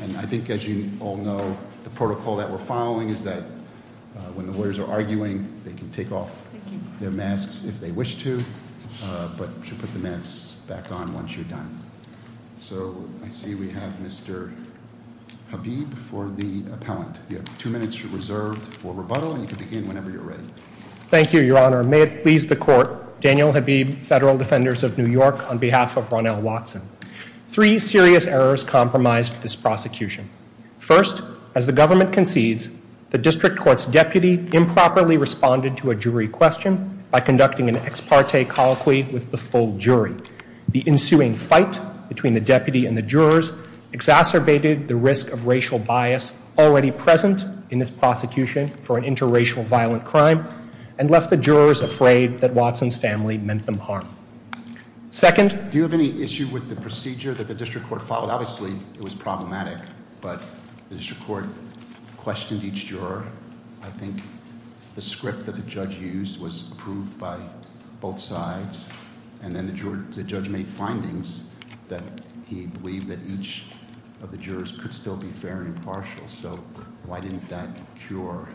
and I think as you all know, the protocol that we're following is that when the lawyers are arguing, they can take off their masks if they wish to, but should put the masks back on once you're done. So I see we have Mr. Habib for the appellant. You have two minutes reserved for rebuttal and you can begin whenever you're ready. Thank you, Your Honor. May it please the court, Daniel Habib, Federal Defenders of New York, on behalf of Ronnell Watson. Three serious errors compromised this prosecution. First, as the government concedes, the district court's deputy improperly responded to a jury question by conducting an ex parte colloquy with the full jury. The ensuing fight between the deputy and the jurors exacerbated the risk of racial bias already present in this prosecution for an interracial violent crime, and left the jurors afraid that Watson's family meant them harm. Second- Do you have any issue with the procedure that the district court followed? Obviously, it was problematic, but the district court questioned each juror. I think the script that the judge used was approved by both sides. And then the judge made findings that he believed that each of the jurors could still be fair and impartial. So why didn't that cure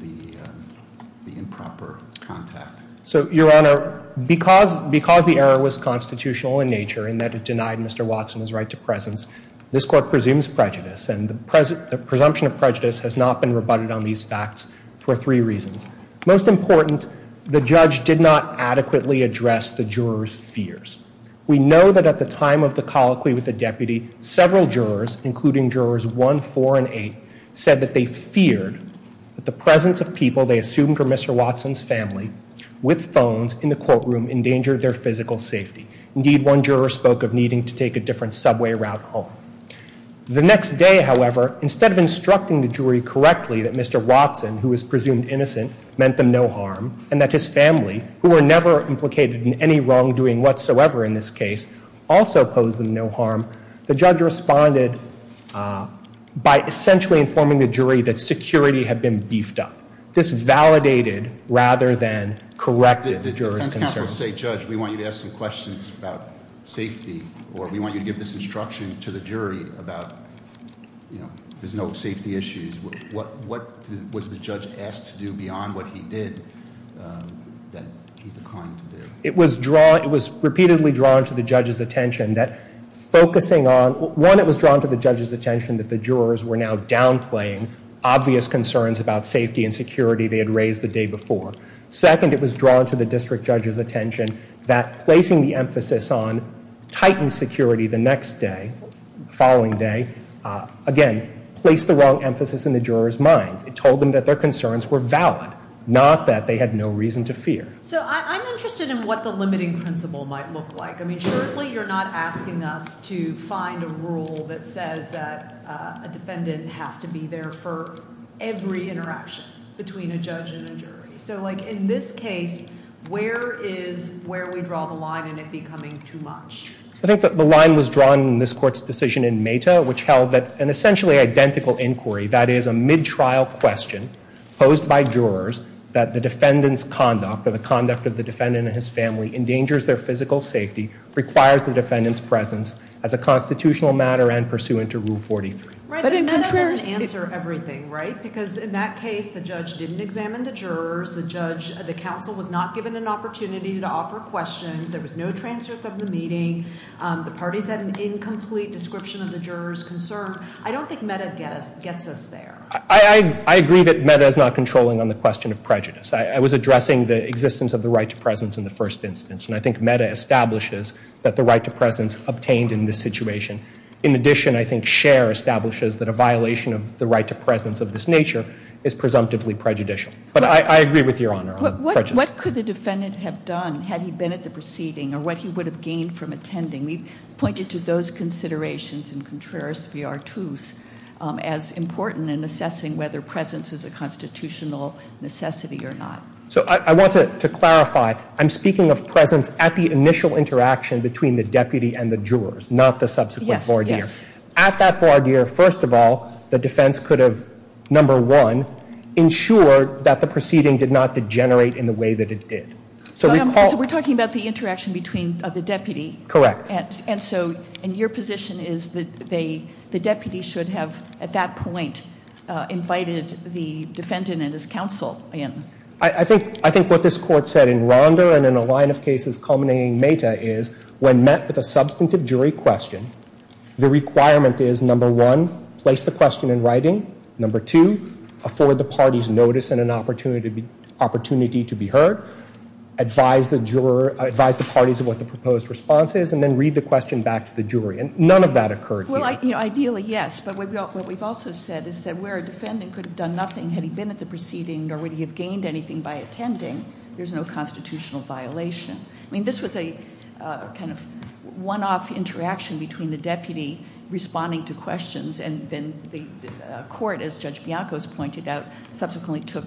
the improper contact? So, Your Honor, because the error was constitutional in nature in that it denied Mr. Watson his right to presence, this court presumes prejudice and the presumption of prejudice has not been rebutted on these facts for three reasons. Most important, the judge did not adequately address the jurors' fears. We know that at the time of the colloquy with the deputy, several jurors, including jurors one, four, and eight, said that they feared that the presence of people they assumed were Mr. Watson's family with phones in the courtroom endangered their physical safety. Indeed, one juror spoke of needing to take a different subway route home. The next day, however, instead of instructing the jury correctly that Mr. Watson, who was presumed innocent, meant them no harm. And that his family, who were never implicated in any wrongdoing whatsoever in this case, also posed them no harm. The judge responded by essentially informing the jury that security had been beefed up. Disvalidated rather than corrected jurors' concerns. I was going to say, Judge, we want you to ask some questions about safety, or we want you to give this instruction to the jury about there's no safety issues. What was the judge asked to do beyond what he did that he declined to do? It was repeatedly drawn to the judge's attention that focusing on, one, it was drawn to the judge's attention that the jurors were now downplaying obvious concerns about safety and security they had raised the day before. Second, it was drawn to the district judge's attention that placing the emphasis on tightened security the next day, the following day, again, placed the wrong emphasis in the jurors' minds. It told them that their concerns were valid, not that they had no reason to fear. So I'm interested in what the limiting principle might look like. I mean, surely you're not asking us to find a rule that says that a defendant has to be there for every interaction between a judge and a jury. So in this case, where is where we draw the line and it becoming too much? I think that the line was drawn in this court's decision in Meta, which held that an essentially identical inquiry, that is a mid-trial question posed by jurors, that the defendant's conduct or the conduct of the defendant and his family endangers their physical safety, requires the defendant's presence as a constitutional matter and pursuant to Rule 43. But in contrast- Right, but Meta doesn't answer everything, right? Because in that case, the judge didn't examine the jurors, the counsel was not given an opportunity to offer questions, there was no transcript of the meeting, the parties had an incomplete description of the jurors' concern. I don't think Meta gets us there. I agree that Meta is not controlling on the question of prejudice. I was addressing the existence of the right to presence in the first instance, and I think Meta establishes that the right to presence obtained in this situation. In addition, I think Scher establishes that a violation of the right to presence of this nature is presumptively prejudicial. But I agree with your honor on prejudice. What could the defendant have done had he been at the proceeding, or what he would have gained from attending? We pointed to those considerations in Contreras v Artus as important in assessing whether presence is a constitutional necessity or not. So I want to clarify, I'm speaking of presence at the initial interaction between the deputy and the jurors, not the subsequent voir dire. At that voir dire, first of all, the defense could have, number one, ensured that the proceeding did not degenerate in the way that it did. So recall- So we're talking about the interaction between the deputy. Correct. And so, and your position is that the deputy should have, at that point, invited the defendant and his counsel in. I think what this court said in Ronda and in a line of cases culminating Meta is, when met with a substantive jury question, the requirement is, number one, place the question in writing. Number two, afford the party's notice and an opportunity to be heard. Advise the parties of what the proposed response is, and then read the question back to the jury. And none of that occurred here. Well, ideally, yes. But what we've also said is that where a defendant could have done nothing had he been at the proceeding, nor would he have gained anything by attending, there's no constitutional violation. I mean, this was a kind of one-off interaction between the deputy responding to questions, and then the court, as Judge Bianco's pointed out, subsequently took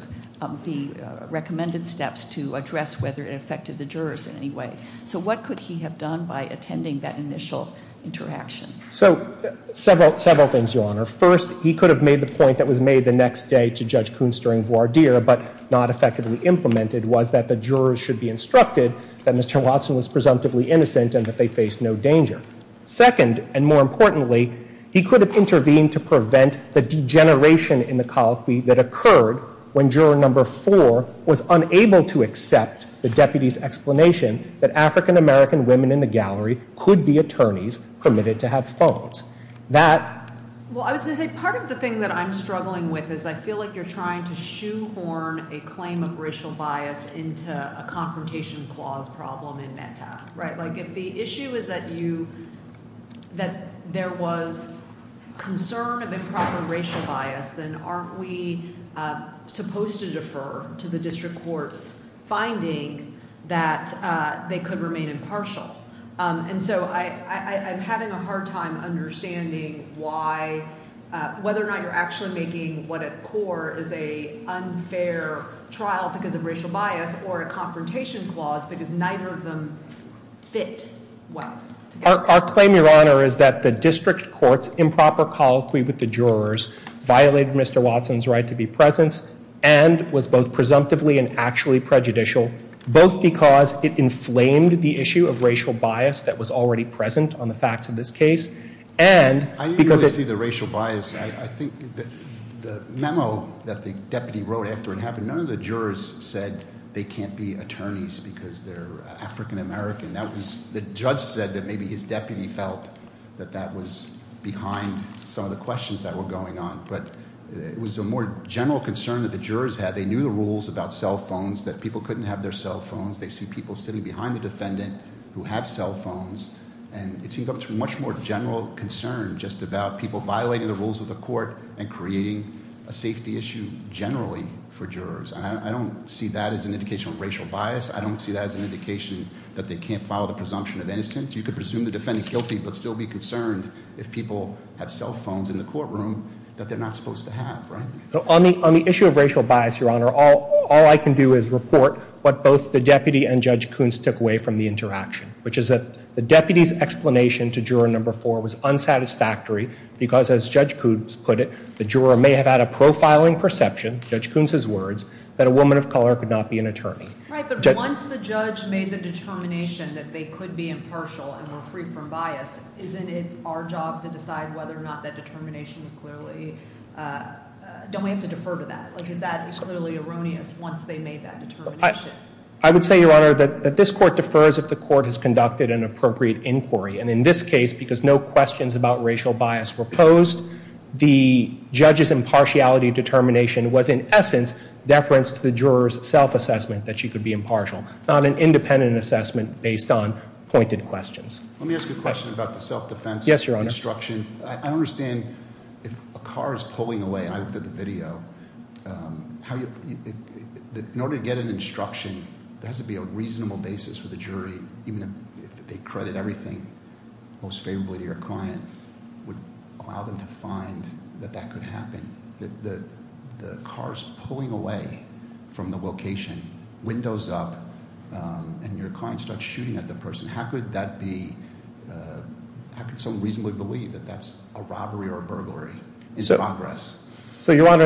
the recommended steps to address whether it affected the jurors in any way. So what could he have done by attending that initial interaction? So several things, Your Honor. First, he could have made the point that was made the next day to Judge Kunsturing-Voirdier, but not effectively implemented, was that the jurors should be instructed that Mr. Watson was presumptively innocent and that they faced no danger. Second, and more importantly, he could have intervened to prevent the degeneration in the colloquy that occurred when juror number four was unable to accept the deputy's explanation that African-American women in the gallery could be attorneys permitted to have phones. That- Well, I was going to say, part of the thing that I'm struggling with is I feel like you're trying to shoehorn a claim of racial bias into a confrontation clause problem in META, right? Like, if the issue is that there was concern of improper racial bias, then aren't we supposed to defer to the district court's finding that they could remain impartial? And so I'm having a hard time understanding why, whether or not you're actually making what at core is a unfair trial because of racial bias or a confrontation clause because neither of them fit well together. Our claim, your honor, is that the district court's improper colloquy with the jurors violated Mr. Watson's right to be present and was both presumptively and actually prejudicial, both because it inflamed the issue of racial bias that was already present on the facts of this case. And- I didn't really see the racial bias, I think the memo that the deputy wrote after it happened, none of the jurors said they can't be attorneys because they're African-American. The judge said that maybe his deputy felt that that was behind some of the questions that were going on. But it was a more general concern that the jurors had. They knew the rules about cell phones, that people couldn't have their cell phones. They see people sitting behind the defendant who have cell phones. And it seems like it's a much more general concern just about people violating the rules of the court and creating a safety issue generally for jurors. And I don't see that as an indication of racial bias. I don't see that as an indication that they can't file the presumption of innocence. You could presume the defendant guilty, but still be concerned if people have cell phones in the courtroom that they're not supposed to have, right? On the issue of racial bias, your honor, all I can do is report what both the deputy and Judge Koontz took away from the interaction. Which is that the deputy's explanation to juror number four was unsatisfactory because as Judge Koontz put it, the juror may have had a profiling perception, Judge Koontz's words, that a woman of color could not be an attorney. Right, but once the judge made the determination that they could be impartial and were free from bias, isn't it our job to decide whether or not that determination is clearly, don't we have to defer to that? Because that is clearly erroneous once they made that determination. I would say, your honor, that this court defers if the court has conducted an appropriate inquiry. And in this case, because no questions about racial bias were posed, the judge's impartiality determination was in essence deference to the juror's self-assessment that she could be impartial. Not an independent assessment based on pointed questions. Let me ask you a question about the self-defense instruction. I understand if a car is pulling away, and I looked at the video, in order to get an instruction, there has to be a reasonable basis for the jury, even if they credit everything most favorably to your client, would allow them to find that that could happen. The car's pulling away from the location, windows up, and your client starts shooting at the person. How could that be, how could someone reasonably believe that that's a robbery or a burglary? Is it progress? So, your honor,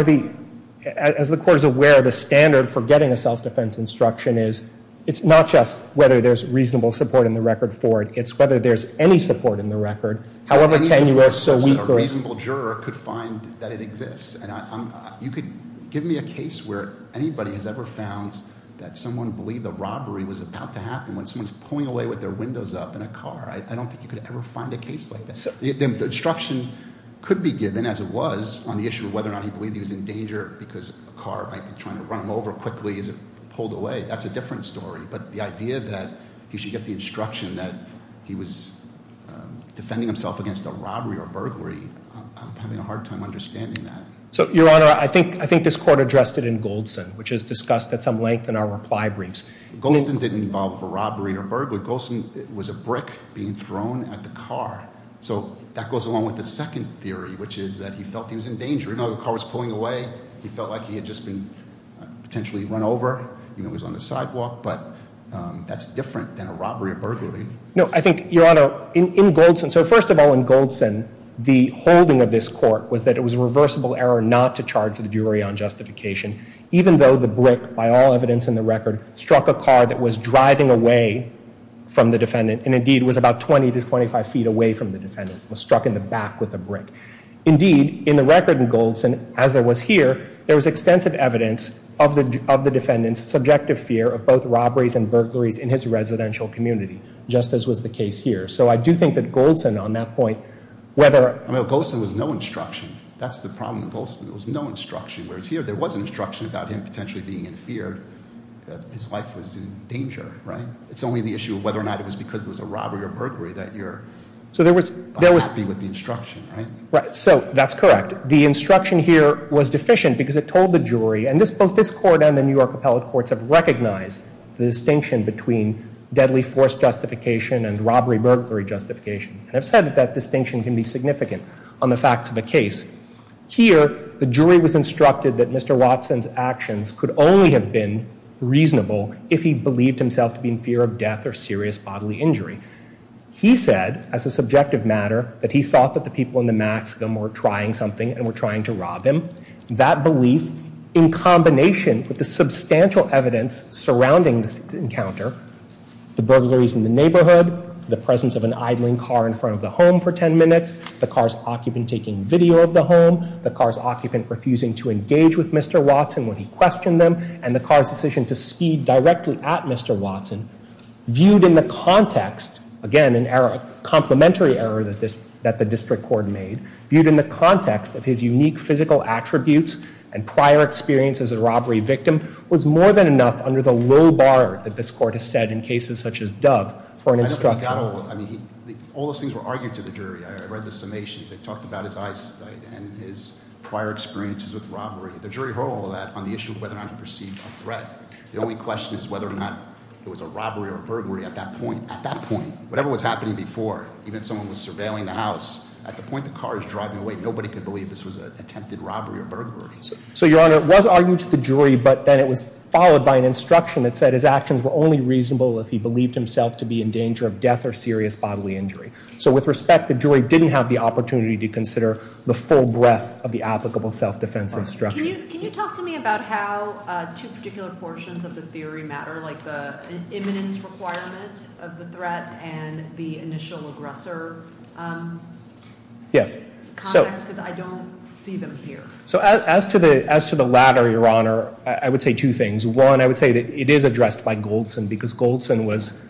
as the court is aware, the standard for getting a self-defense instruction is, it's not just whether there's reasonable support in the record for it, it's whether there's any support in the record. However, tenure is so weak or- A reasonable juror could find that it exists, and you could give me a case where anybody has ever found that someone believed a robbery was about to happen when someone's pulling away with their windows up in a car. I don't think you could ever find a case like this. The instruction could be given, as it was, on the issue of whether or not he believed he was in danger because a car might be trying to run him over quickly as it pulled away. That's a different story, but the idea that he should get the instruction that he was defending himself against a robbery or a burglary, I'm having a hard time understanding that. So, your honor, I think this court addressed it in Goldson, which is discussed at some length in our reply briefs. Goldson didn't involve a robbery or a burglary. Goldson was a brick being thrown at the car. So, that goes along with the second theory, which is that he felt he was in danger. Even though the car was pulling away, he felt like he had just been potentially run over, even if it was on the sidewalk, but that's different than a robbery or burglary. No, I think, your honor, in Goldson, so first of all, in Goldson, the holding of this court was that it was a reversible error not to charge the jury on justification. Even though the brick, by all evidence in the record, struck a car that was driving away from the defendant, and indeed was about 20 to 25 feet away from the defendant, was struck in the back with a brick. Indeed, in the record in Goldson, as there was here, there was extensive evidence of the defendant's subjective fear of both robberies and burglaries in his residential community, just as was the case here. So, I do think that Goldson, on that point, whether- I mean, Goldson was no instruction. That's the problem with Goldson, there was no instruction. Whereas here, there was an instruction about him potentially being in fear that his wife was in danger, right? It's only the issue of whether or not it was because there was a robbery or burglary that you're unhappy with the instruction, right? Right, so that's correct. The instruction here was deficient because it told the jury, and both this court and the New York appellate courts have recognized the distinction between deadly force justification and robbery-burglary justification. And I've said that that distinction can be significant on the facts of the case. Here, the jury was instructed that Mr. Watson's actions could only have been reasonable if he believed himself to be in fear of death or serious bodily injury. He said, as a subjective matter, that he thought that the people in the maximum were trying something and were trying to rob him. That belief, in combination with the substantial evidence surrounding this encounter, the burglaries in the neighborhood, the presence of an idling car in front of the home for ten minutes, the car's occupant taking video of the home, the car's occupant refusing to engage with Mr. Watson when he questioned them, and the car's decision to speed directly at Mr. Watson, viewed in the context, again, a complimentary error that the district court made, viewed in the context of his unique physical attributes and prior experience as a robbery victim, was more than enough under the low bar that this court has set in cases such as Dove for an instruction. I mean, all those things were argued to the jury. I read the summation. They talked about his eyesight and his prior experiences with robbery. The jury heard all of that on the issue of whether or not he perceived a threat. The only question is whether or not it was a robbery or a burglary at that point. At that point, whatever was happening before, even if someone was surveilling the house, at the point the car is driving away, nobody could believe this was an attempted robbery or burglary. So, Your Honor, it was argued to the jury, but then it was followed by an instruction that said his actions were only reasonable if he believed himself to be in danger of death or serious bodily injury. So, with respect, the jury didn't have the opportunity to consider the full breadth of the applicable self-defense instruction. Can you talk to me about how two particular portions of the theory matter, like the imminence requirement of the threat and the initial aggressor? Yes. Because I don't see them here. So, as to the latter, Your Honor, I would say two things. One, I would say that it is addressed by Goldson because Goldson was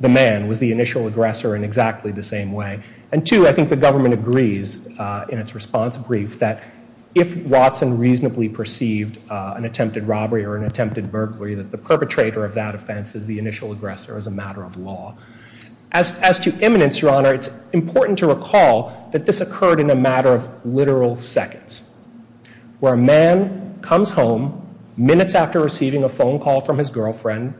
the man, was the initial aggressor in exactly the same way. And two, I think the government agrees in its response brief that if Watson reasonably perceived an attempted robbery or an attempted burglary, that the perpetrator of that offense is the initial aggressor as a matter of law. As to imminence, Your Honor, it's important to recall that this occurred in a matter of literal seconds. Where a man comes home minutes after receiving a phone call from his girlfriend,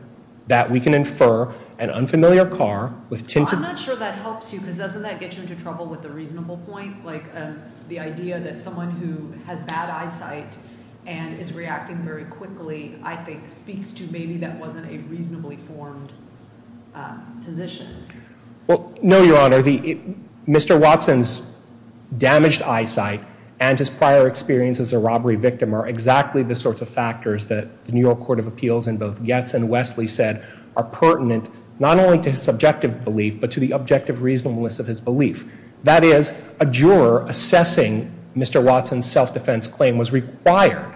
that we can infer an unfamiliar car with tinted- Well, I'm not sure that helps you because doesn't that get you into trouble with the reasonable point? Like the idea that someone who has bad eyesight and is reacting very quickly, I think, speaks to maybe that wasn't a reasonably formed position. Well, no, Your Honor. Mr. Watson's damaged eyesight and his prior experience as a robbery victim are exactly the sorts of factors that the New York Court of Appeals in both Getz and Wesley said are pertinent not only to his subjective belief, but to the objective reasonableness of his belief. That is, a juror assessing Mr. Watson's self-defense claim was required,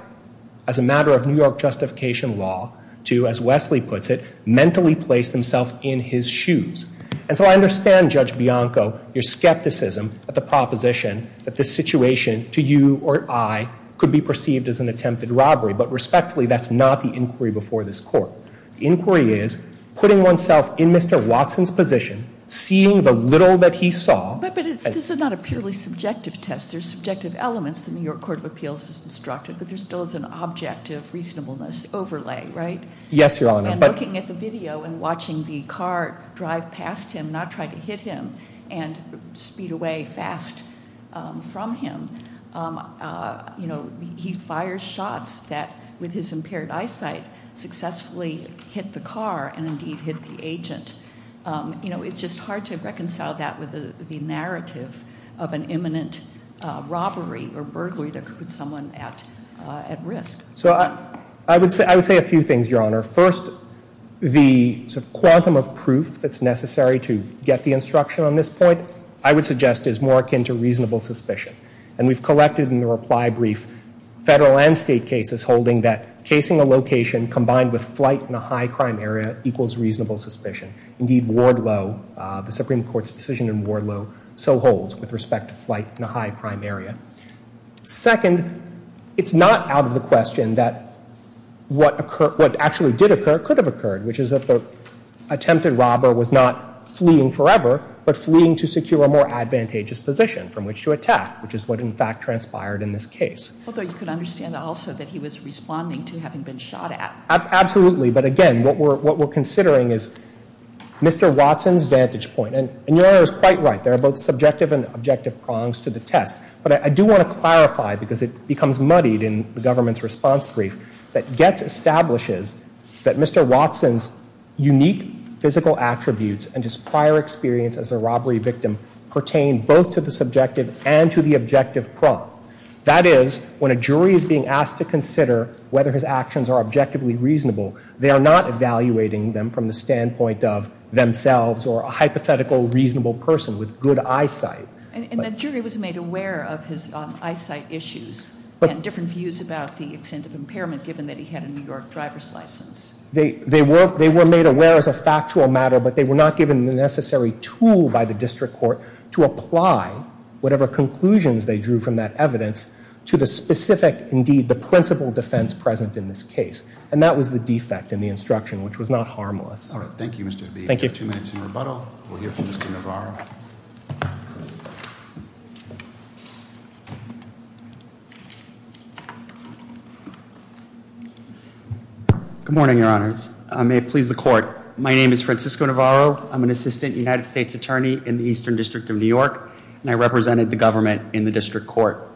as a matter of New York justification law, to, as Wesley puts it, mentally place himself in his shoes. And so I understand, Judge Bianco, your skepticism of the proposition that this situation to you or I could be perceived as an attempted robbery, but respectfully, that's not the inquiry before this court. The inquiry is putting oneself in Mr. Watson's position, seeing the little that he saw- Which still is an object of reasonableness overlay, right? Yes, Your Honor. And looking at the video and watching the car drive past him, not try to hit him, and speed away fast from him, he fires shots that, with his impaired eyesight, successfully hit the car and indeed hit the agent. It's just hard to reconcile that with the narrative of an imminent robbery or an incident at risk. I would say a few things, Your Honor. First, the quantum of proof that's necessary to get the instruction on this point, I would suggest is more akin to reasonable suspicion. And we've collected in the reply brief federal and state cases holding that casing a location combined with flight in a high crime area equals reasonable suspicion. Indeed, Wardlow, the Supreme Court's decision in Wardlow, so holds with respect to flight in a high crime area. Second, it's not out of the question that what actually did occur could have occurred, which is that the attempted robber was not fleeing forever, but fleeing to secure a more advantageous position from which to attack, which is what in fact transpired in this case. Although you could understand also that he was responding to having been shot at. Absolutely, but again, what we're considering is Mr. Watson's vantage point. And Your Honor is quite right, there are both subjective and objective prongs to the test. But I do want to clarify, because it becomes muddied in the government's response brief, that Getz establishes that Mr. Watson's unique physical attributes and his prior experience as a robbery victim pertain both to the subjective and to the objective prong. That is, when a jury is being asked to consider whether his actions are objectively reasonable, they are not evaluating them from the standpoint of themselves or a hypothetical reasonable person with good eyesight. And the jury was made aware of his eyesight issues and different views about the extent of impairment, given that he had a New York driver's license. They were made aware as a factual matter, but they were not given the necessary tool by the district court to apply whatever conclusions they drew from that evidence to the specific, indeed, the principle defense present in this case, and that was the defect in the instruction, which was not harmless. All right, thank you, Mr. Abbi. Thank you. We have two minutes in rebuttal. We'll hear from Mr. Navarro. Good morning, your honors. May it please the court. My name is Francisco Navarro. I'm an assistant United States attorney in the Eastern District of New York, and I represented the government in the district court.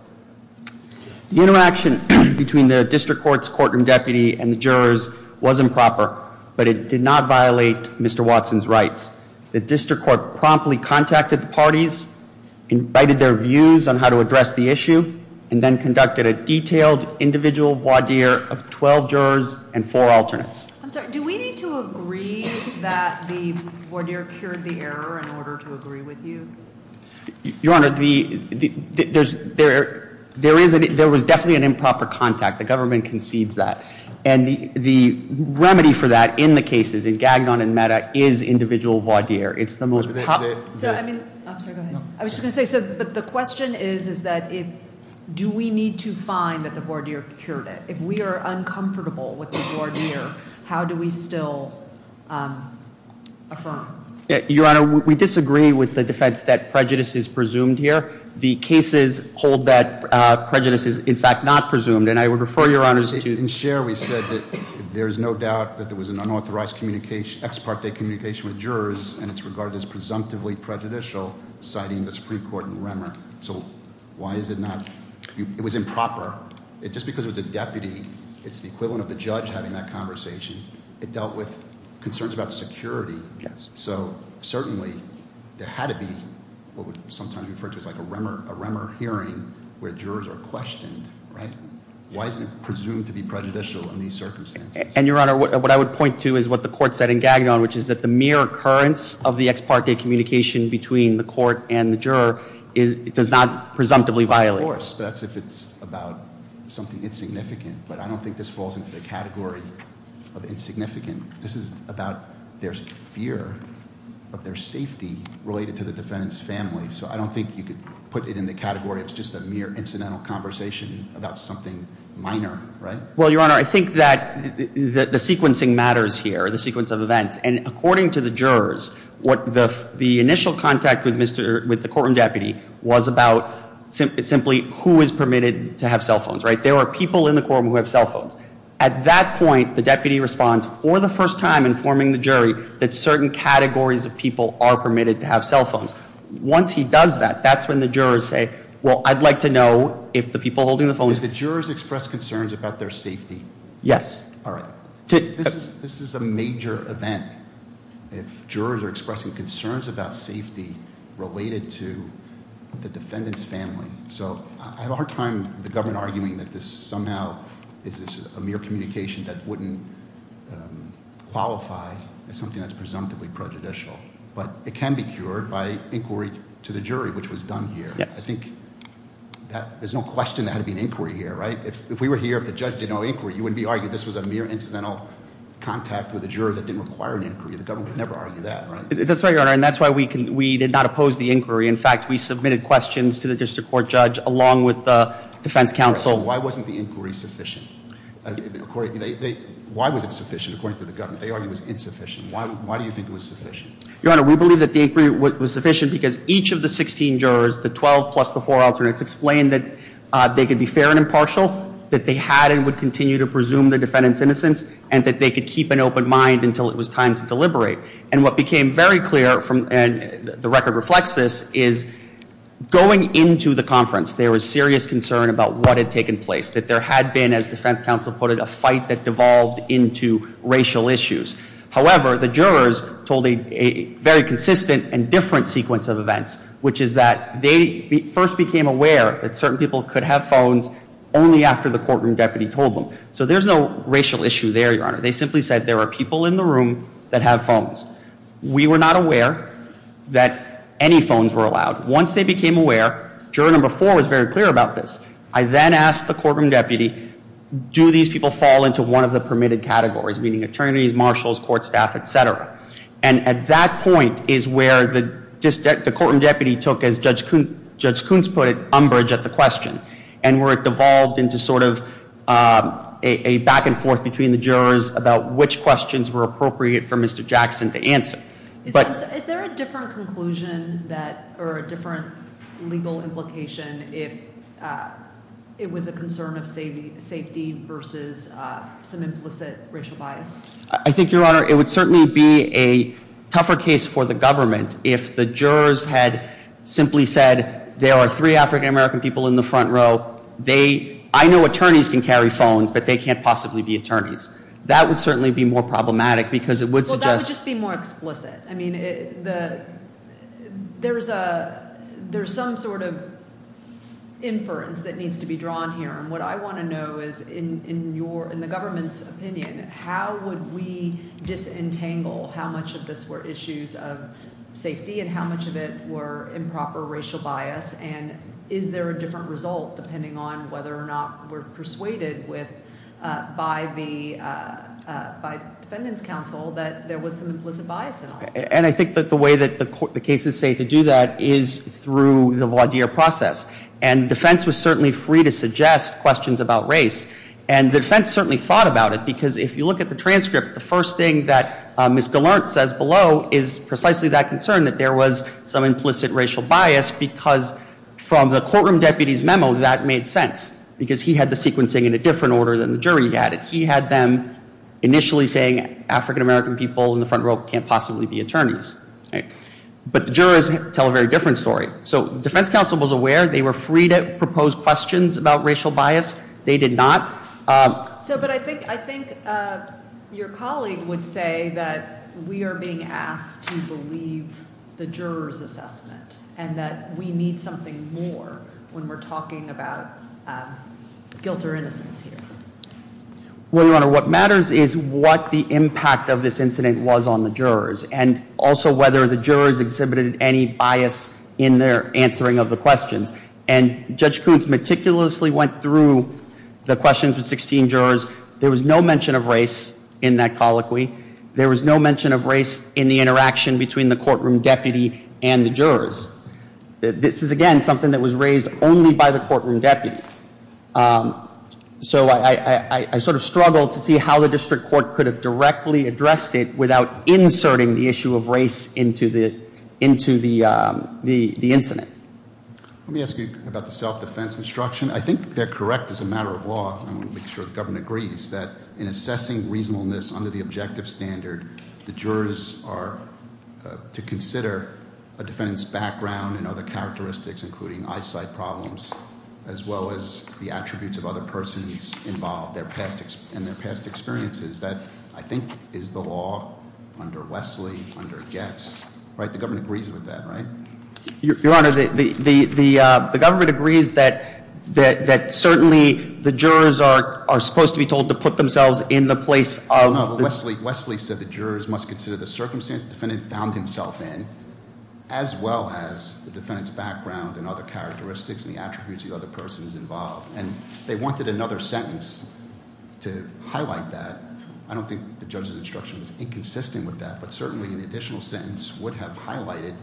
The interaction between the district court's courtroom deputy and the jurors was improper, but it did not violate Mr. Watson's rights. The district court promptly contacted the parties, invited their views on how to address the issue, and then conducted a detailed individual voir dire of 12 jurors and four alternates. I'm sorry, do we need to agree that the voir dire cured the error in order to agree with you? Your honor, there was definitely an improper contact. The government concedes that. And the remedy for that in the cases, in Gagnon and Meta, is individual voir dire. It's the most- So, I mean, I'm sorry, go ahead. I was just going to say, so, but the question is, is that if, do we need to find that the voir dire cured it? If we are uncomfortable with the voir dire, how do we still affirm? Your honor, we disagree with the defense that prejudice is presumed here. The cases hold that prejudice is, in fact, not presumed, and I would refer your honors to- In Cher, we said that there's no doubt that there was an unauthorized ex parte communication with jurors, and it's regarded as presumptively prejudicial, citing the Supreme Court and Remmer. So, why is it not, it was improper. Just because it was a deputy, it's the equivalent of the judge having that conversation. It dealt with concerns about security. So, certainly, there had to be, what we sometimes refer to as a Remmer hearing, where jurors are questioned, right? Why isn't it presumed to be prejudicial in these circumstances? And your honor, what I would point to is what the court said in Gagnon, which is that the mere occurrence of the ex parte communication between the court and the juror does not presumptively violate. Of course, that's if it's about something insignificant, but I don't think this falls into the category of insignificant. This is about their fear of their safety related to the defendant's family. So, I don't think you could put it in the category of just a mere incidental conversation about something minor, right? Well, your honor, I think that the sequencing matters here, the sequence of events. And according to the jurors, the initial contact with the courtroom deputy was about simply who is permitted to have cell phones, right? There are people in the courtroom who have cell phones. At that point, the deputy responds for the first time informing the jury that certain categories of people are permitted to have cell phones. Once he does that, that's when the jurors say, well, I'd like to know if the people holding the phones- If the jurors express concerns about their safety. Yes. All right. This is a major event if jurors are expressing concerns about safety related to the defendant's family. So, I have a hard time with the government arguing that this somehow is a mere communication that wouldn't qualify as something that's presumptively prejudicial, but it can be cured by inquiry to the jury, which was done here. Yes. I think there's no question there had to be an inquiry here, right? If we were here, if the judge did no inquiry, you wouldn't be arguing this was a mere incidental contact with a juror that didn't require an inquiry. The government would never argue that, right? That's right, your honor, and that's why we did not oppose the inquiry. In fact, we submitted questions to the district court judge along with the defense counsel. Why wasn't the inquiry sufficient? Why was it sufficient according to the government? They argue it was insufficient. Why do you think it was sufficient? Your honor, we believe that the inquiry was sufficient because each of the 16 jurors, the 12 plus the four alternates, explained that they could be fair and impartial, that they had and would continue to presume the defendant's innocence, and that they could keep an open mind until it was time to deliberate. And what became very clear, and the record reflects this, is going into the conference, there was serious concern about what had taken place, that there had been, as defense counsel put it, a fight that devolved into racial issues. However, the jurors told a very consistent and different sequence of events, which is that they first became aware that certain people could have phones only after the courtroom deputy told them. So there's no racial issue there, your honor. They simply said there are people in the room that have phones. We were not aware that any phones were allowed. Once they became aware, juror number four was very clear about this. I then asked the courtroom deputy, do these people fall into one of the permitted categories, meaning attorneys, marshals, court staff, etc. And at that point is where the courtroom deputy took, as Judge Koontz put it, umbrage at the question. And where it devolved into sort of a back and forth between the jurors about which questions were appropriate for Mr. Jackson to answer. But- Is there a different conclusion that, or a different legal implication if it was a concern of safety versus some implicit racial bias? I think, your honor, it would certainly be a tougher case for the government if the jurors had simply said there are three African American people in the front row, I know attorneys can carry phones, but they can't possibly be attorneys. So that would just be more explicit. I mean, there's some sort of inference that needs to be drawn here. And what I want to know is in the government's opinion, how would we disentangle how much of this were issues of safety and how much of it were improper racial bias and is there a different result depending on whether or not we're persuaded by the defendant's counsel that there was some implicit bias in all of this? And I think that the way that the cases say to do that is through the voir dire process. And defense was certainly free to suggest questions about race. And the defense certainly thought about it, because if you look at the transcript, the first thing that Ms. Gallant says below is precisely that concern that there was some implicit racial bias. Because from the courtroom deputy's memo, that made sense, because he had the sequencing in a different order than the jury had it. He had them initially saying African American people in the front row can't possibly be attorneys. But the jurors tell a very different story. So defense counsel was aware, they were free to propose questions about racial bias. They did not. So but I think your colleague would say that we are being asked to believe the juror's assessment. And that we need something more when we're talking about guilt or innocence here. Well, Your Honor, what matters is what the impact of this incident was on the jurors. And also whether the jurors exhibited any bias in their answering of the questions. And Judge Koontz meticulously went through the questions with 16 jurors. There was no mention of race in that colloquy. There was no mention of race in the interaction between the courtroom deputy and the jurors. This is again, something that was raised only by the courtroom deputy. So I sort of struggled to see how the district court could have directly addressed it without inserting the issue of race into the incident. Let me ask you about the self-defense instruction. I think they're correct as a matter of law, I want to make sure the government agrees, that in assessing reasonableness under the objective standard, the jurors are to consider a defendant's background and other characteristics, including eyesight problems, as well as the attributes of other persons involved in their past experiences. That, I think, is the law under Wesley, under Getz, right? The government agrees with that, right? Your Honor, the government agrees that certainly the jurors are supposed to be told to put themselves in the place of- Wesley said the jurors must consider the circumstance the defendant found himself in, as well as the defendant's background and other characteristics and the attributes of the other persons involved. And they wanted another sentence to highlight that. I don't think the judge's instruction was inconsistent with that. But certainly, an additional sentence would have highlighted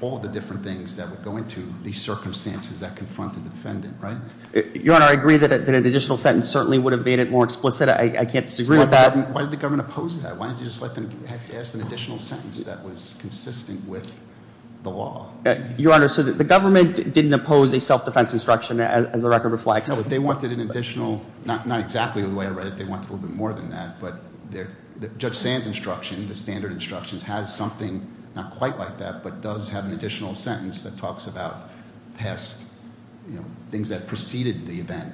all the different things that would go into these circumstances that confronted the defendant, right? Your Honor, I agree that an additional sentence certainly would have made it more explicit. I can't disagree with that. Why did the government oppose that? Why didn't you just let them ask an additional sentence that was consistent with the law? Your Honor, so the government didn't oppose a self-defense instruction, as the record reflects. No, they wanted an additional, not exactly the way I read it, they wanted a little bit more than that. But Judge Sand's instruction, the standard instructions, has something not quite like that, but does have an additional sentence that talks about past things that preceded the event,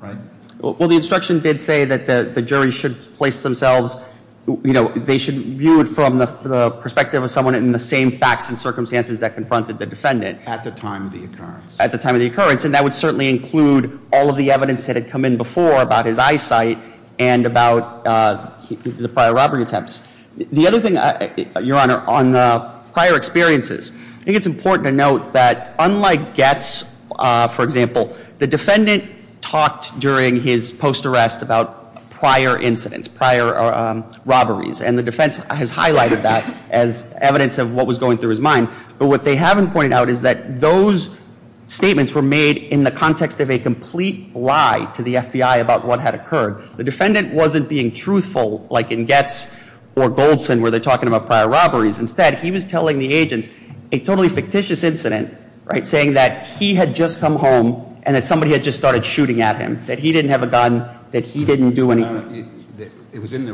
right? Well, the instruction did say that the jury should place themselves, they should view it from the perspective of someone in the same facts and circumstances that confronted the defendant. At the time of the occurrence. At the time of the occurrence. And that would certainly include all of the evidence that had come in before about his eyesight and about the prior robbery attempts. The other thing, Your Honor, on the prior experiences. I think it's important to note that unlike Getz, for example, the defendant talked during his post arrest about prior incidents, prior robberies. And the defense has highlighted that as evidence of what was going through his mind. But what they haven't pointed out is that those statements were made in the context of a complete lie to the FBI about what had occurred. The defendant wasn't being truthful like in Getz or Goldson where they're talking about prior robberies. Instead, he was telling the agents a totally fictitious incident, right? Saying that he had just come home and that somebody had just started shooting at him. That he didn't have a gun, that he didn't do anything. It was in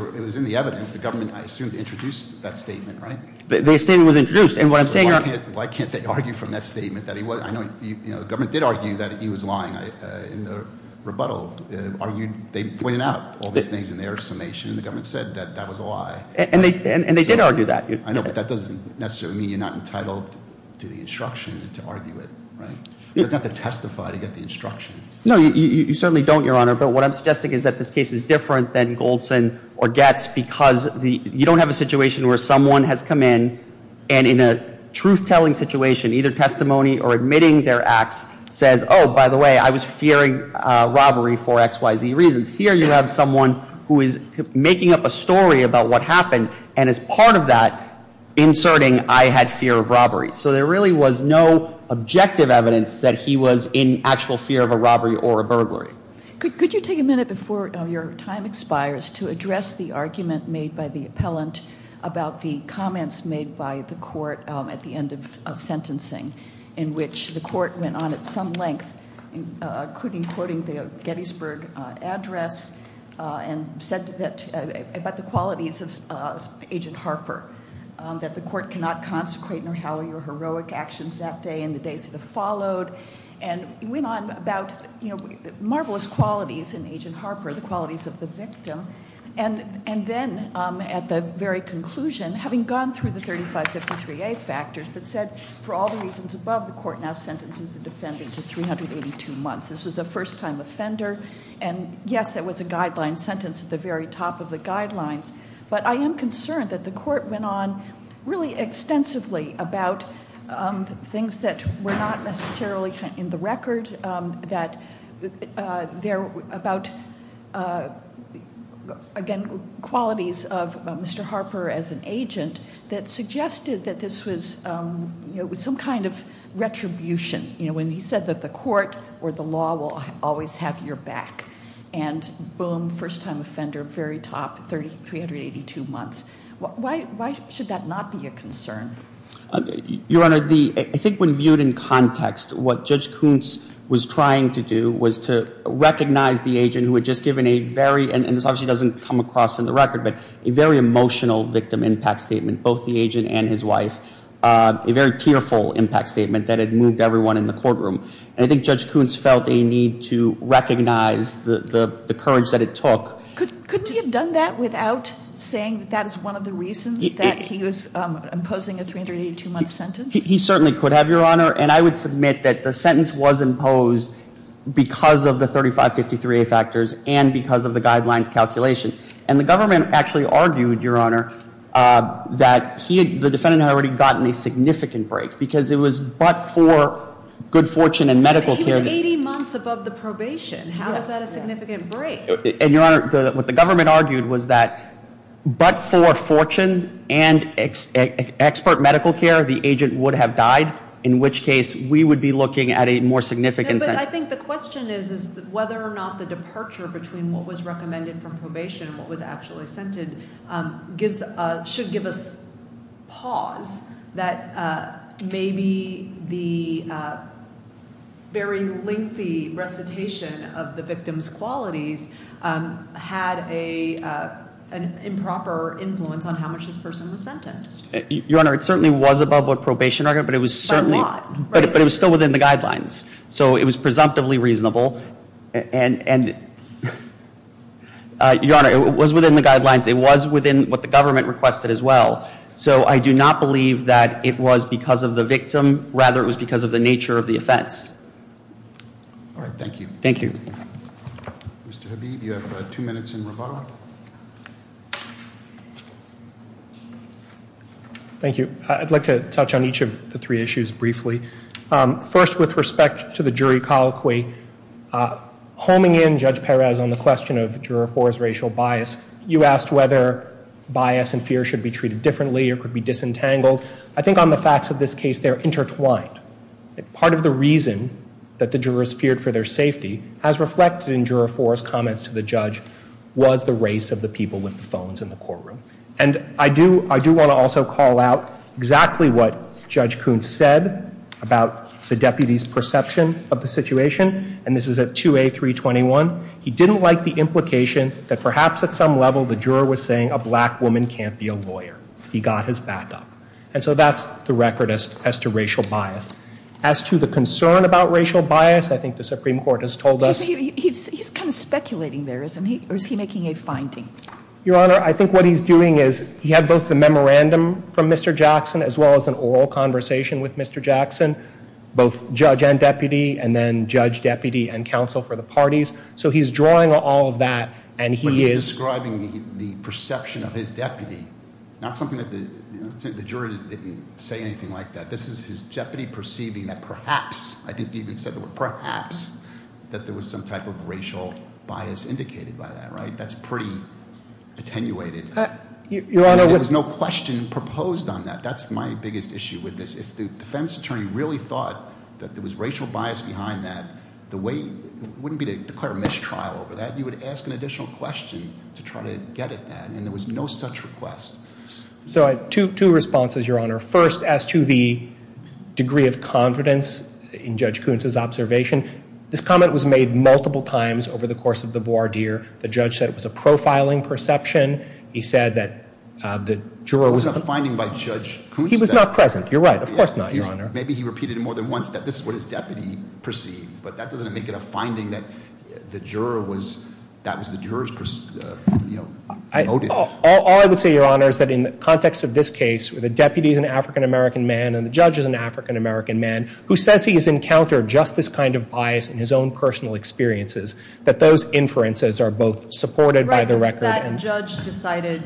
the evidence. The government, I assume, introduced that statement, right? The statement was introduced. And what I'm saying- Why can't they argue from that statement that he was, I know the government did argue that he was lying in the rebuttal. They pointed out all these things in their summation. The government said that that was a lie. And they did argue that. I know, but that doesn't necessarily mean you're not entitled to the instruction to argue it, right? You have to testify to get the instruction. No, you certainly don't, Your Honor. But what I'm suggesting is that this case is different than Goldson or McMahon, and in a truth-telling situation, either testimony or admitting their acts, says, by the way, I was fearing robbery for X, Y, Z reasons. Here you have someone who is making up a story about what happened, and as part of that, inserting I had fear of robbery. So there really was no objective evidence that he was in actual fear of a robbery or a burglary. Could you take a minute before your time expires to address the argument made by the appellant about the comments made by the court at the end of sentencing, in which the court went on at some length, including quoting the Gettysburg address, and said about the qualities of Agent Harper, that the court cannot consecrate nor howl your heroic actions that day and the days that have followed. And went on about marvelous qualities in Agent Harper, the qualities of the victim. And then at the very conclusion, having gone through the 3553A factors, but said for all the reasons above, the court now sentences the defendant to 382 months. This was the first time offender, and yes, that was a guideline sentence at the very top of the guidelines. But I am concerned that the court went on really extensively about things that were not necessarily in the record, that there were about, again, qualities of Mr. Harper as an agent that suggested that this was some kind of retribution. When he said that the court or the law will always have your back. And boom, first time offender, very top, 382 months. Why should that not be a concern? Your Honor, I think when viewed in context, what Judge Kuntz was trying to do was to recognize the agent who had just given a very, and this obviously doesn't come across in the record, but a very emotional victim impact statement, both the agent and his wife. A very tearful impact statement that had moved everyone in the courtroom. And I think Judge Kuntz felt a need to recognize the courage that it took. Couldn't he have done that without saying that that is one of the reasons that he was imposing a 382 month sentence? He certainly could have, Your Honor, and I would submit that the sentence was imposed because of the 3553A factors and because of the guidelines calculation. And the government actually argued, Your Honor, that the defendant had already gotten a significant break. Because it was but for good fortune and medical care. He was 80 months above the probation. How is that a significant break? And Your Honor, what the government argued was that, but for fortune and expert medical care, the agent would have died. In which case, we would be looking at a more significant sentence. But I think the question is, is whether or not the departure between what was recommended from probation and what was actually assented should give us pause. That maybe the very lengthy recitation of the victim's qualities had an improper influence on how much this person was sentenced. Your Honor, it certainly was above what probation argued, but it was still within the guidelines. So it was presumptively reasonable, and Your Honor, it was within the guidelines, it was within what the government requested as well. So I do not believe that it was because of the victim, rather it was because of the nature of the offense. All right, thank you. Thank you. Mr. Habib, you have two minutes in rebuttal. Thank you. I'd like to touch on each of the three issues briefly. First, with respect to the jury colloquy, homing in Judge Perez on the question of juror four's racial bias. You asked whether bias and fear should be treated differently or could be disentangled. I think on the facts of this case, they're intertwined. Part of the reason that the jurors feared for their safety, as reflected in juror four's comments to the judge, was the race of the people with the phones in the courtroom. And I do want to also call out exactly what Judge Coons said about the deputy's perception of the situation, and this is at 2A321. He didn't like the implication that perhaps at some level the juror was saying a black woman can't be a lawyer. He got his back up. And so that's the record as to racial bias. As to the concern about racial bias, I think the Supreme Court has told us- He's kind of speculating there, isn't he? Or is he making a finding? Your Honor, I think what he's doing is, he had both the memorandum from Mr. Jackson, as well as an oral conversation with Mr. Jackson. Both judge and deputy, and then judge, deputy, and counsel for the parties. So he's drawing all of that, and he is- Describing the perception of his deputy, not something that the jury didn't say anything like that. This is his deputy perceiving that perhaps, I think he even said the word perhaps, that there was some type of racial bias indicated by that, right? That's pretty attenuated. There was no question proposed on that. That's my biggest issue with this. If the defense attorney really thought that there was racial bias behind that, the way, it wouldn't be to declare a mistrial over that. You would ask an additional question to try to get at that, and there was no such request. So I have two responses, Your Honor. First, as to the degree of confidence in Judge Koonce's observation. This comment was made multiple times over the course of the voir dire. The judge said it was a profiling perception. He said that the juror was- It was a finding by Judge Koonce. He was not present, you're right. Of course not, Your Honor. Maybe he repeated it more than once, that this is what his deputy perceived. But that doesn't make it a finding that the juror was, that was the juror's, you know, noted. All I would say, Your Honor, is that in the context of this case, where the deputy is an African-American man, and the judge is an African-American man, who says he has encountered just this kind of bias in his own personal experiences. That those inferences are both supported by the record. Right, but that judge decided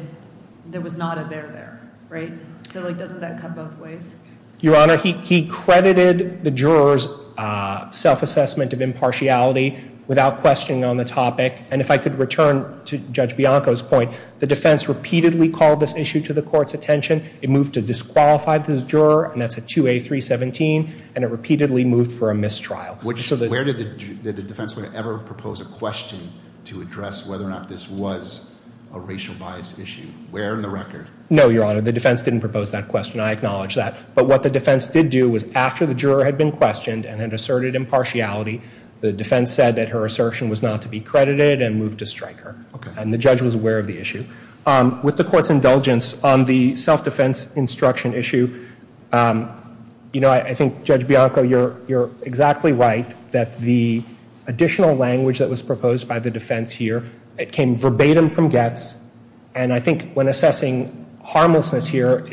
there was not a there there, right? So doesn't that cut both ways? Your Honor, he credited the juror's self-assessment of impartiality without questioning on the topic. And if I could return to Judge Bianco's point, the defense repeatedly called this issue to the court's attention. It moved to disqualify this juror, and that's a 2A317, and it repeatedly moved for a mistrial. Where did the defense ever propose a question to address whether or not this was a racial bias issue? Where in the record? No, Your Honor, the defense didn't propose that question. I acknowledge that. But what the defense did do was after the juror had been questioned and had asserted impartiality, the defense said that her assertion was not to be credited and moved to strike her. And the judge was aware of the issue. With the court's indulgence on the self-defense instruction issue, I think, Judge Bianco, you're exactly right that the additional language that was proposed by the defense here, it came verbatim from Getz. And I think when assessing harmlessness here,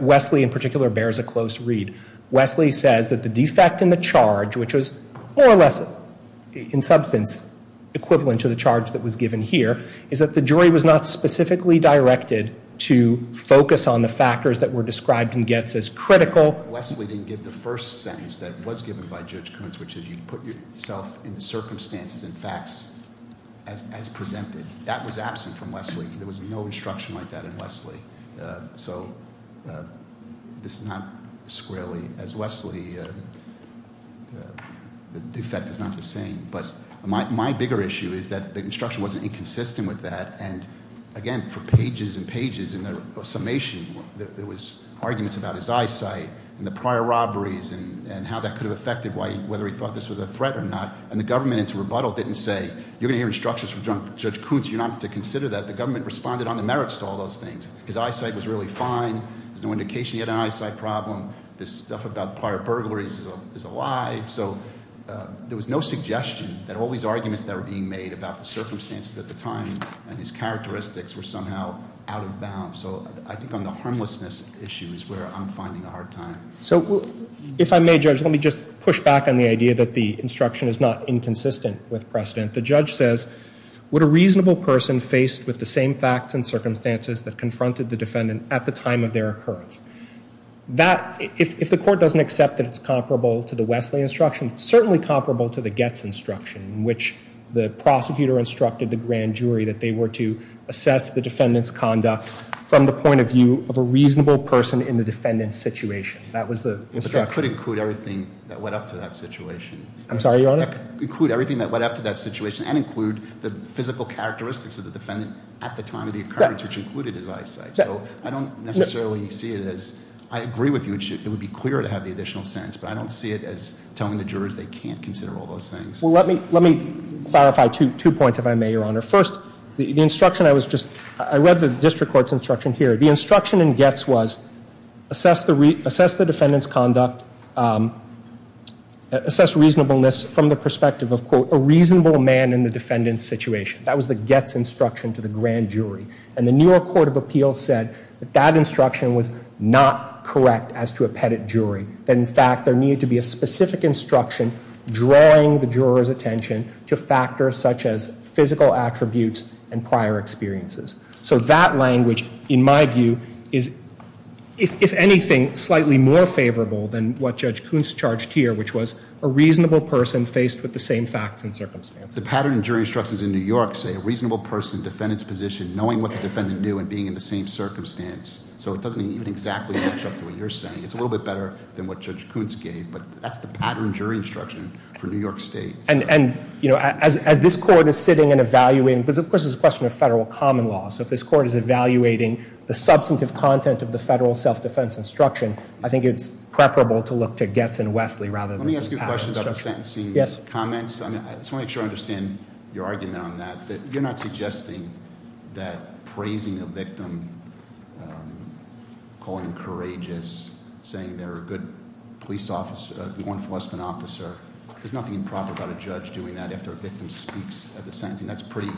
Wesley in particular bears a close read. Wesley says that the defect in the charge, which was more or less in substance equivalent to the charge that was given here, is that the jury was not specifically directed to focus on the factors that were described in Getz as critical. Wesley didn't give the first sentence that was given by Judge Coons, which is you put yourself in the circumstances and facts as presented. That was absent from Wesley. There was no instruction like that in Wesley. So this is not squarely, as Wesley, the defect is not the same, but my bigger issue is that the instruction wasn't inconsistent with that. And again, for pages and pages in the summation, there was arguments about his eyesight and the prior robberies and how that could have affected whether he thought this was a threat or not. And the government, in its rebuttal, didn't say, you're going to hear instructions from Judge Coons, you don't have to consider that. The government responded on the merits to all those things. His eyesight was really fine, there's no indication he had an eyesight problem. This stuff about prior burglaries is a lie. So there was no suggestion that all these arguments that were being made about the circumstances at the time and his characteristics were somehow out of bounds. So I think on the harmlessness issue is where I'm finding a hard time. So, if I may, Judge, let me just push back on the idea that the instruction is not inconsistent with precedent. The judge says, would a reasonable person faced with the same facts and circumstances that confronted the defendant at the time of their occurrence. If the court doesn't accept that it's comparable to the Wesley instruction, it's certainly comparable to the Getz instruction, which the prosecutor instructed the grand jury that they were to assess the defendant's situation, that was the instruction. It could include everything that went up to that situation. I'm sorry, your honor? It could include everything that went up to that situation and include the physical characteristics of the defendant at the time of the occurrence, which included his eyesight. So I don't necessarily see it as, I agree with you, it would be clearer to have the additional sentence, but I don't see it as telling the jurors they can't consider all those things. Well, let me clarify two points, if I may, your honor. First, the instruction I was just, I read the district court's instruction here. The instruction in Getz was, assess the defendant's conduct, assess reasonableness from the perspective of, quote, a reasonable man in the defendant's situation. That was the Getz instruction to the grand jury. And the New York Court of Appeals said that that instruction was not correct as to a pettit jury. That in fact, there needed to be a specific instruction drawing the juror's attention to factors such as physical attributes and prior experiences. So that language, in my view, is, if anything, slightly more favorable than what Judge Kuntz charged here, which was a reasonable person faced with the same facts and circumstances. The pattern and jury instructions in New York say a reasonable person, defendant's position, knowing what the defendant knew and being in the same circumstance. So it doesn't even exactly match up to what you're saying. It's a little bit better than what Judge Kuntz gave, but that's the pattern jury instruction for New York State. And as this court is sitting and evaluating, because of course, it's a question of federal common law. So if this court is evaluating the substantive content of the federal self-defense instruction, I think it's preferable to look to Getz and Wesley rather than- Let me ask you a question about the sentencing comments. I just want to make sure I understand your argument on that. You're not suggesting that praising a victim, calling them courageous, saying they're a good police officer, law enforcement officer. There's nothing improper about a judge doing that after a victim speaks at the sentencing. That's pretty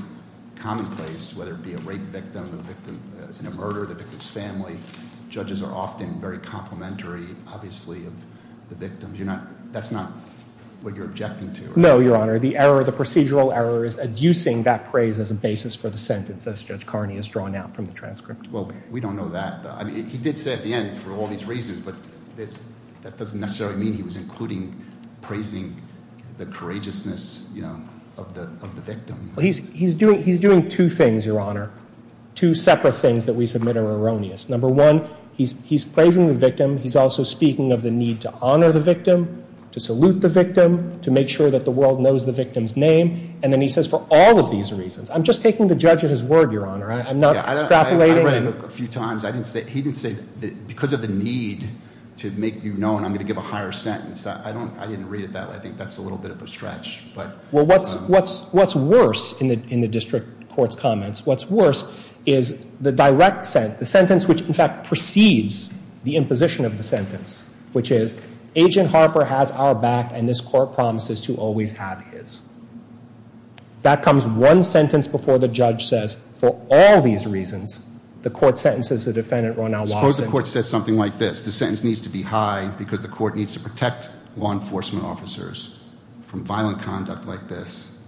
commonplace, whether it be a rape victim, a victim in a murder, the victim's family. Judges are often very complimentary, obviously, of the victims. That's not what you're objecting to? No, Your Honor. The procedural error is adducing that praise as a basis for the sentence, as Judge Carney has drawn out from the transcript. Well, we don't know that. He did say at the end, for all these reasons, but that doesn't necessarily mean he was including praising the courageousness of the victim. He's doing two things, Your Honor, two separate things that we submit are erroneous. Number one, he's praising the victim. He's also speaking of the need to honor the victim, to salute the victim, to make sure that the world knows the victim's name. And then he says, for all of these reasons. I'm just taking the judge at his word, Your Honor. I'm not extrapolating. I've read it a few times. He didn't say, because of the need to make you known, I'm going to give a higher sentence. I didn't read it that way. I think that's a little bit of a stretch. Well, what's worse in the district court's comments? What's worse is the direct sentence, which in fact precedes the imposition of the sentence. Which is, Agent Harper has our back and this court promises to always have his. That comes one sentence before the judge says, for all these reasons, the court sentences the defendant, Ronald Watson. Suppose the court said something like this. The sentence needs to be high because the court needs to protect law enforcement officers from violent conduct like this.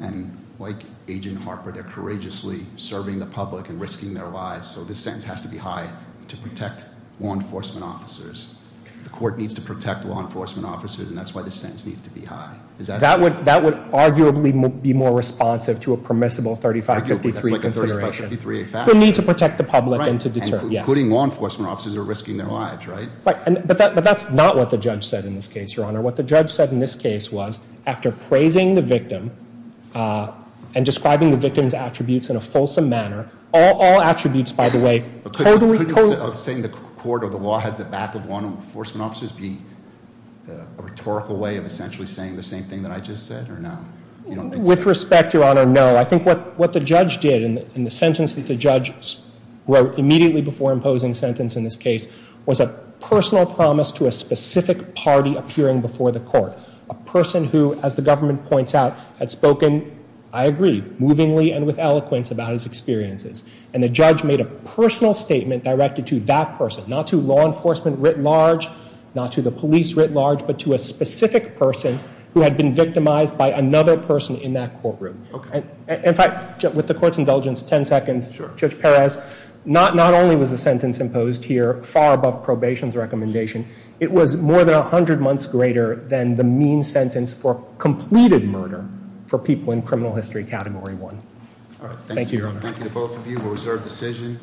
And like Agent Harper, they're courageously serving the public and risking their lives. So this sentence has to be high to protect law enforcement officers. The court needs to protect law enforcement officers and that's why this sentence needs to be high. That would arguably be more responsive to a permissible 3553 consideration. I feel like that's like a 3553-a fact. It's a need to protect the public and to deter, yes. Including law enforcement officers who are risking their lives, right? Right, but that's not what the judge said in this case, Your Honor. What the judge said in this case was, after praising the victim and describing the victim's attributes in a fulsome manner, all attributes, by the way, totally- Is saying the court or the law has the back of law enforcement officers be a rhetorical way of essentially saying the same thing that I just said or no? With respect, Your Honor, no. I think what the judge did in the sentence that the judge wrote immediately before imposing sentence in this case was a personal promise to a specific party appearing before the court. A person who, as the government points out, had spoken, I agree, movingly and with eloquence about his experiences. And the judge made a personal statement directed to that person, not to law enforcement writ large, not to the police writ large, but to a specific person who had been victimized by another person in that courtroom. Okay. In fact, with the court's indulgence, ten seconds, Judge Perez, not only was the sentence imposed here far above probation's recommendation, it was more than 100 months greater than the mean sentence for completed murder for people in criminal history category one. Thank you, Your Honor. Thank you to both of you, we'll reserve decision.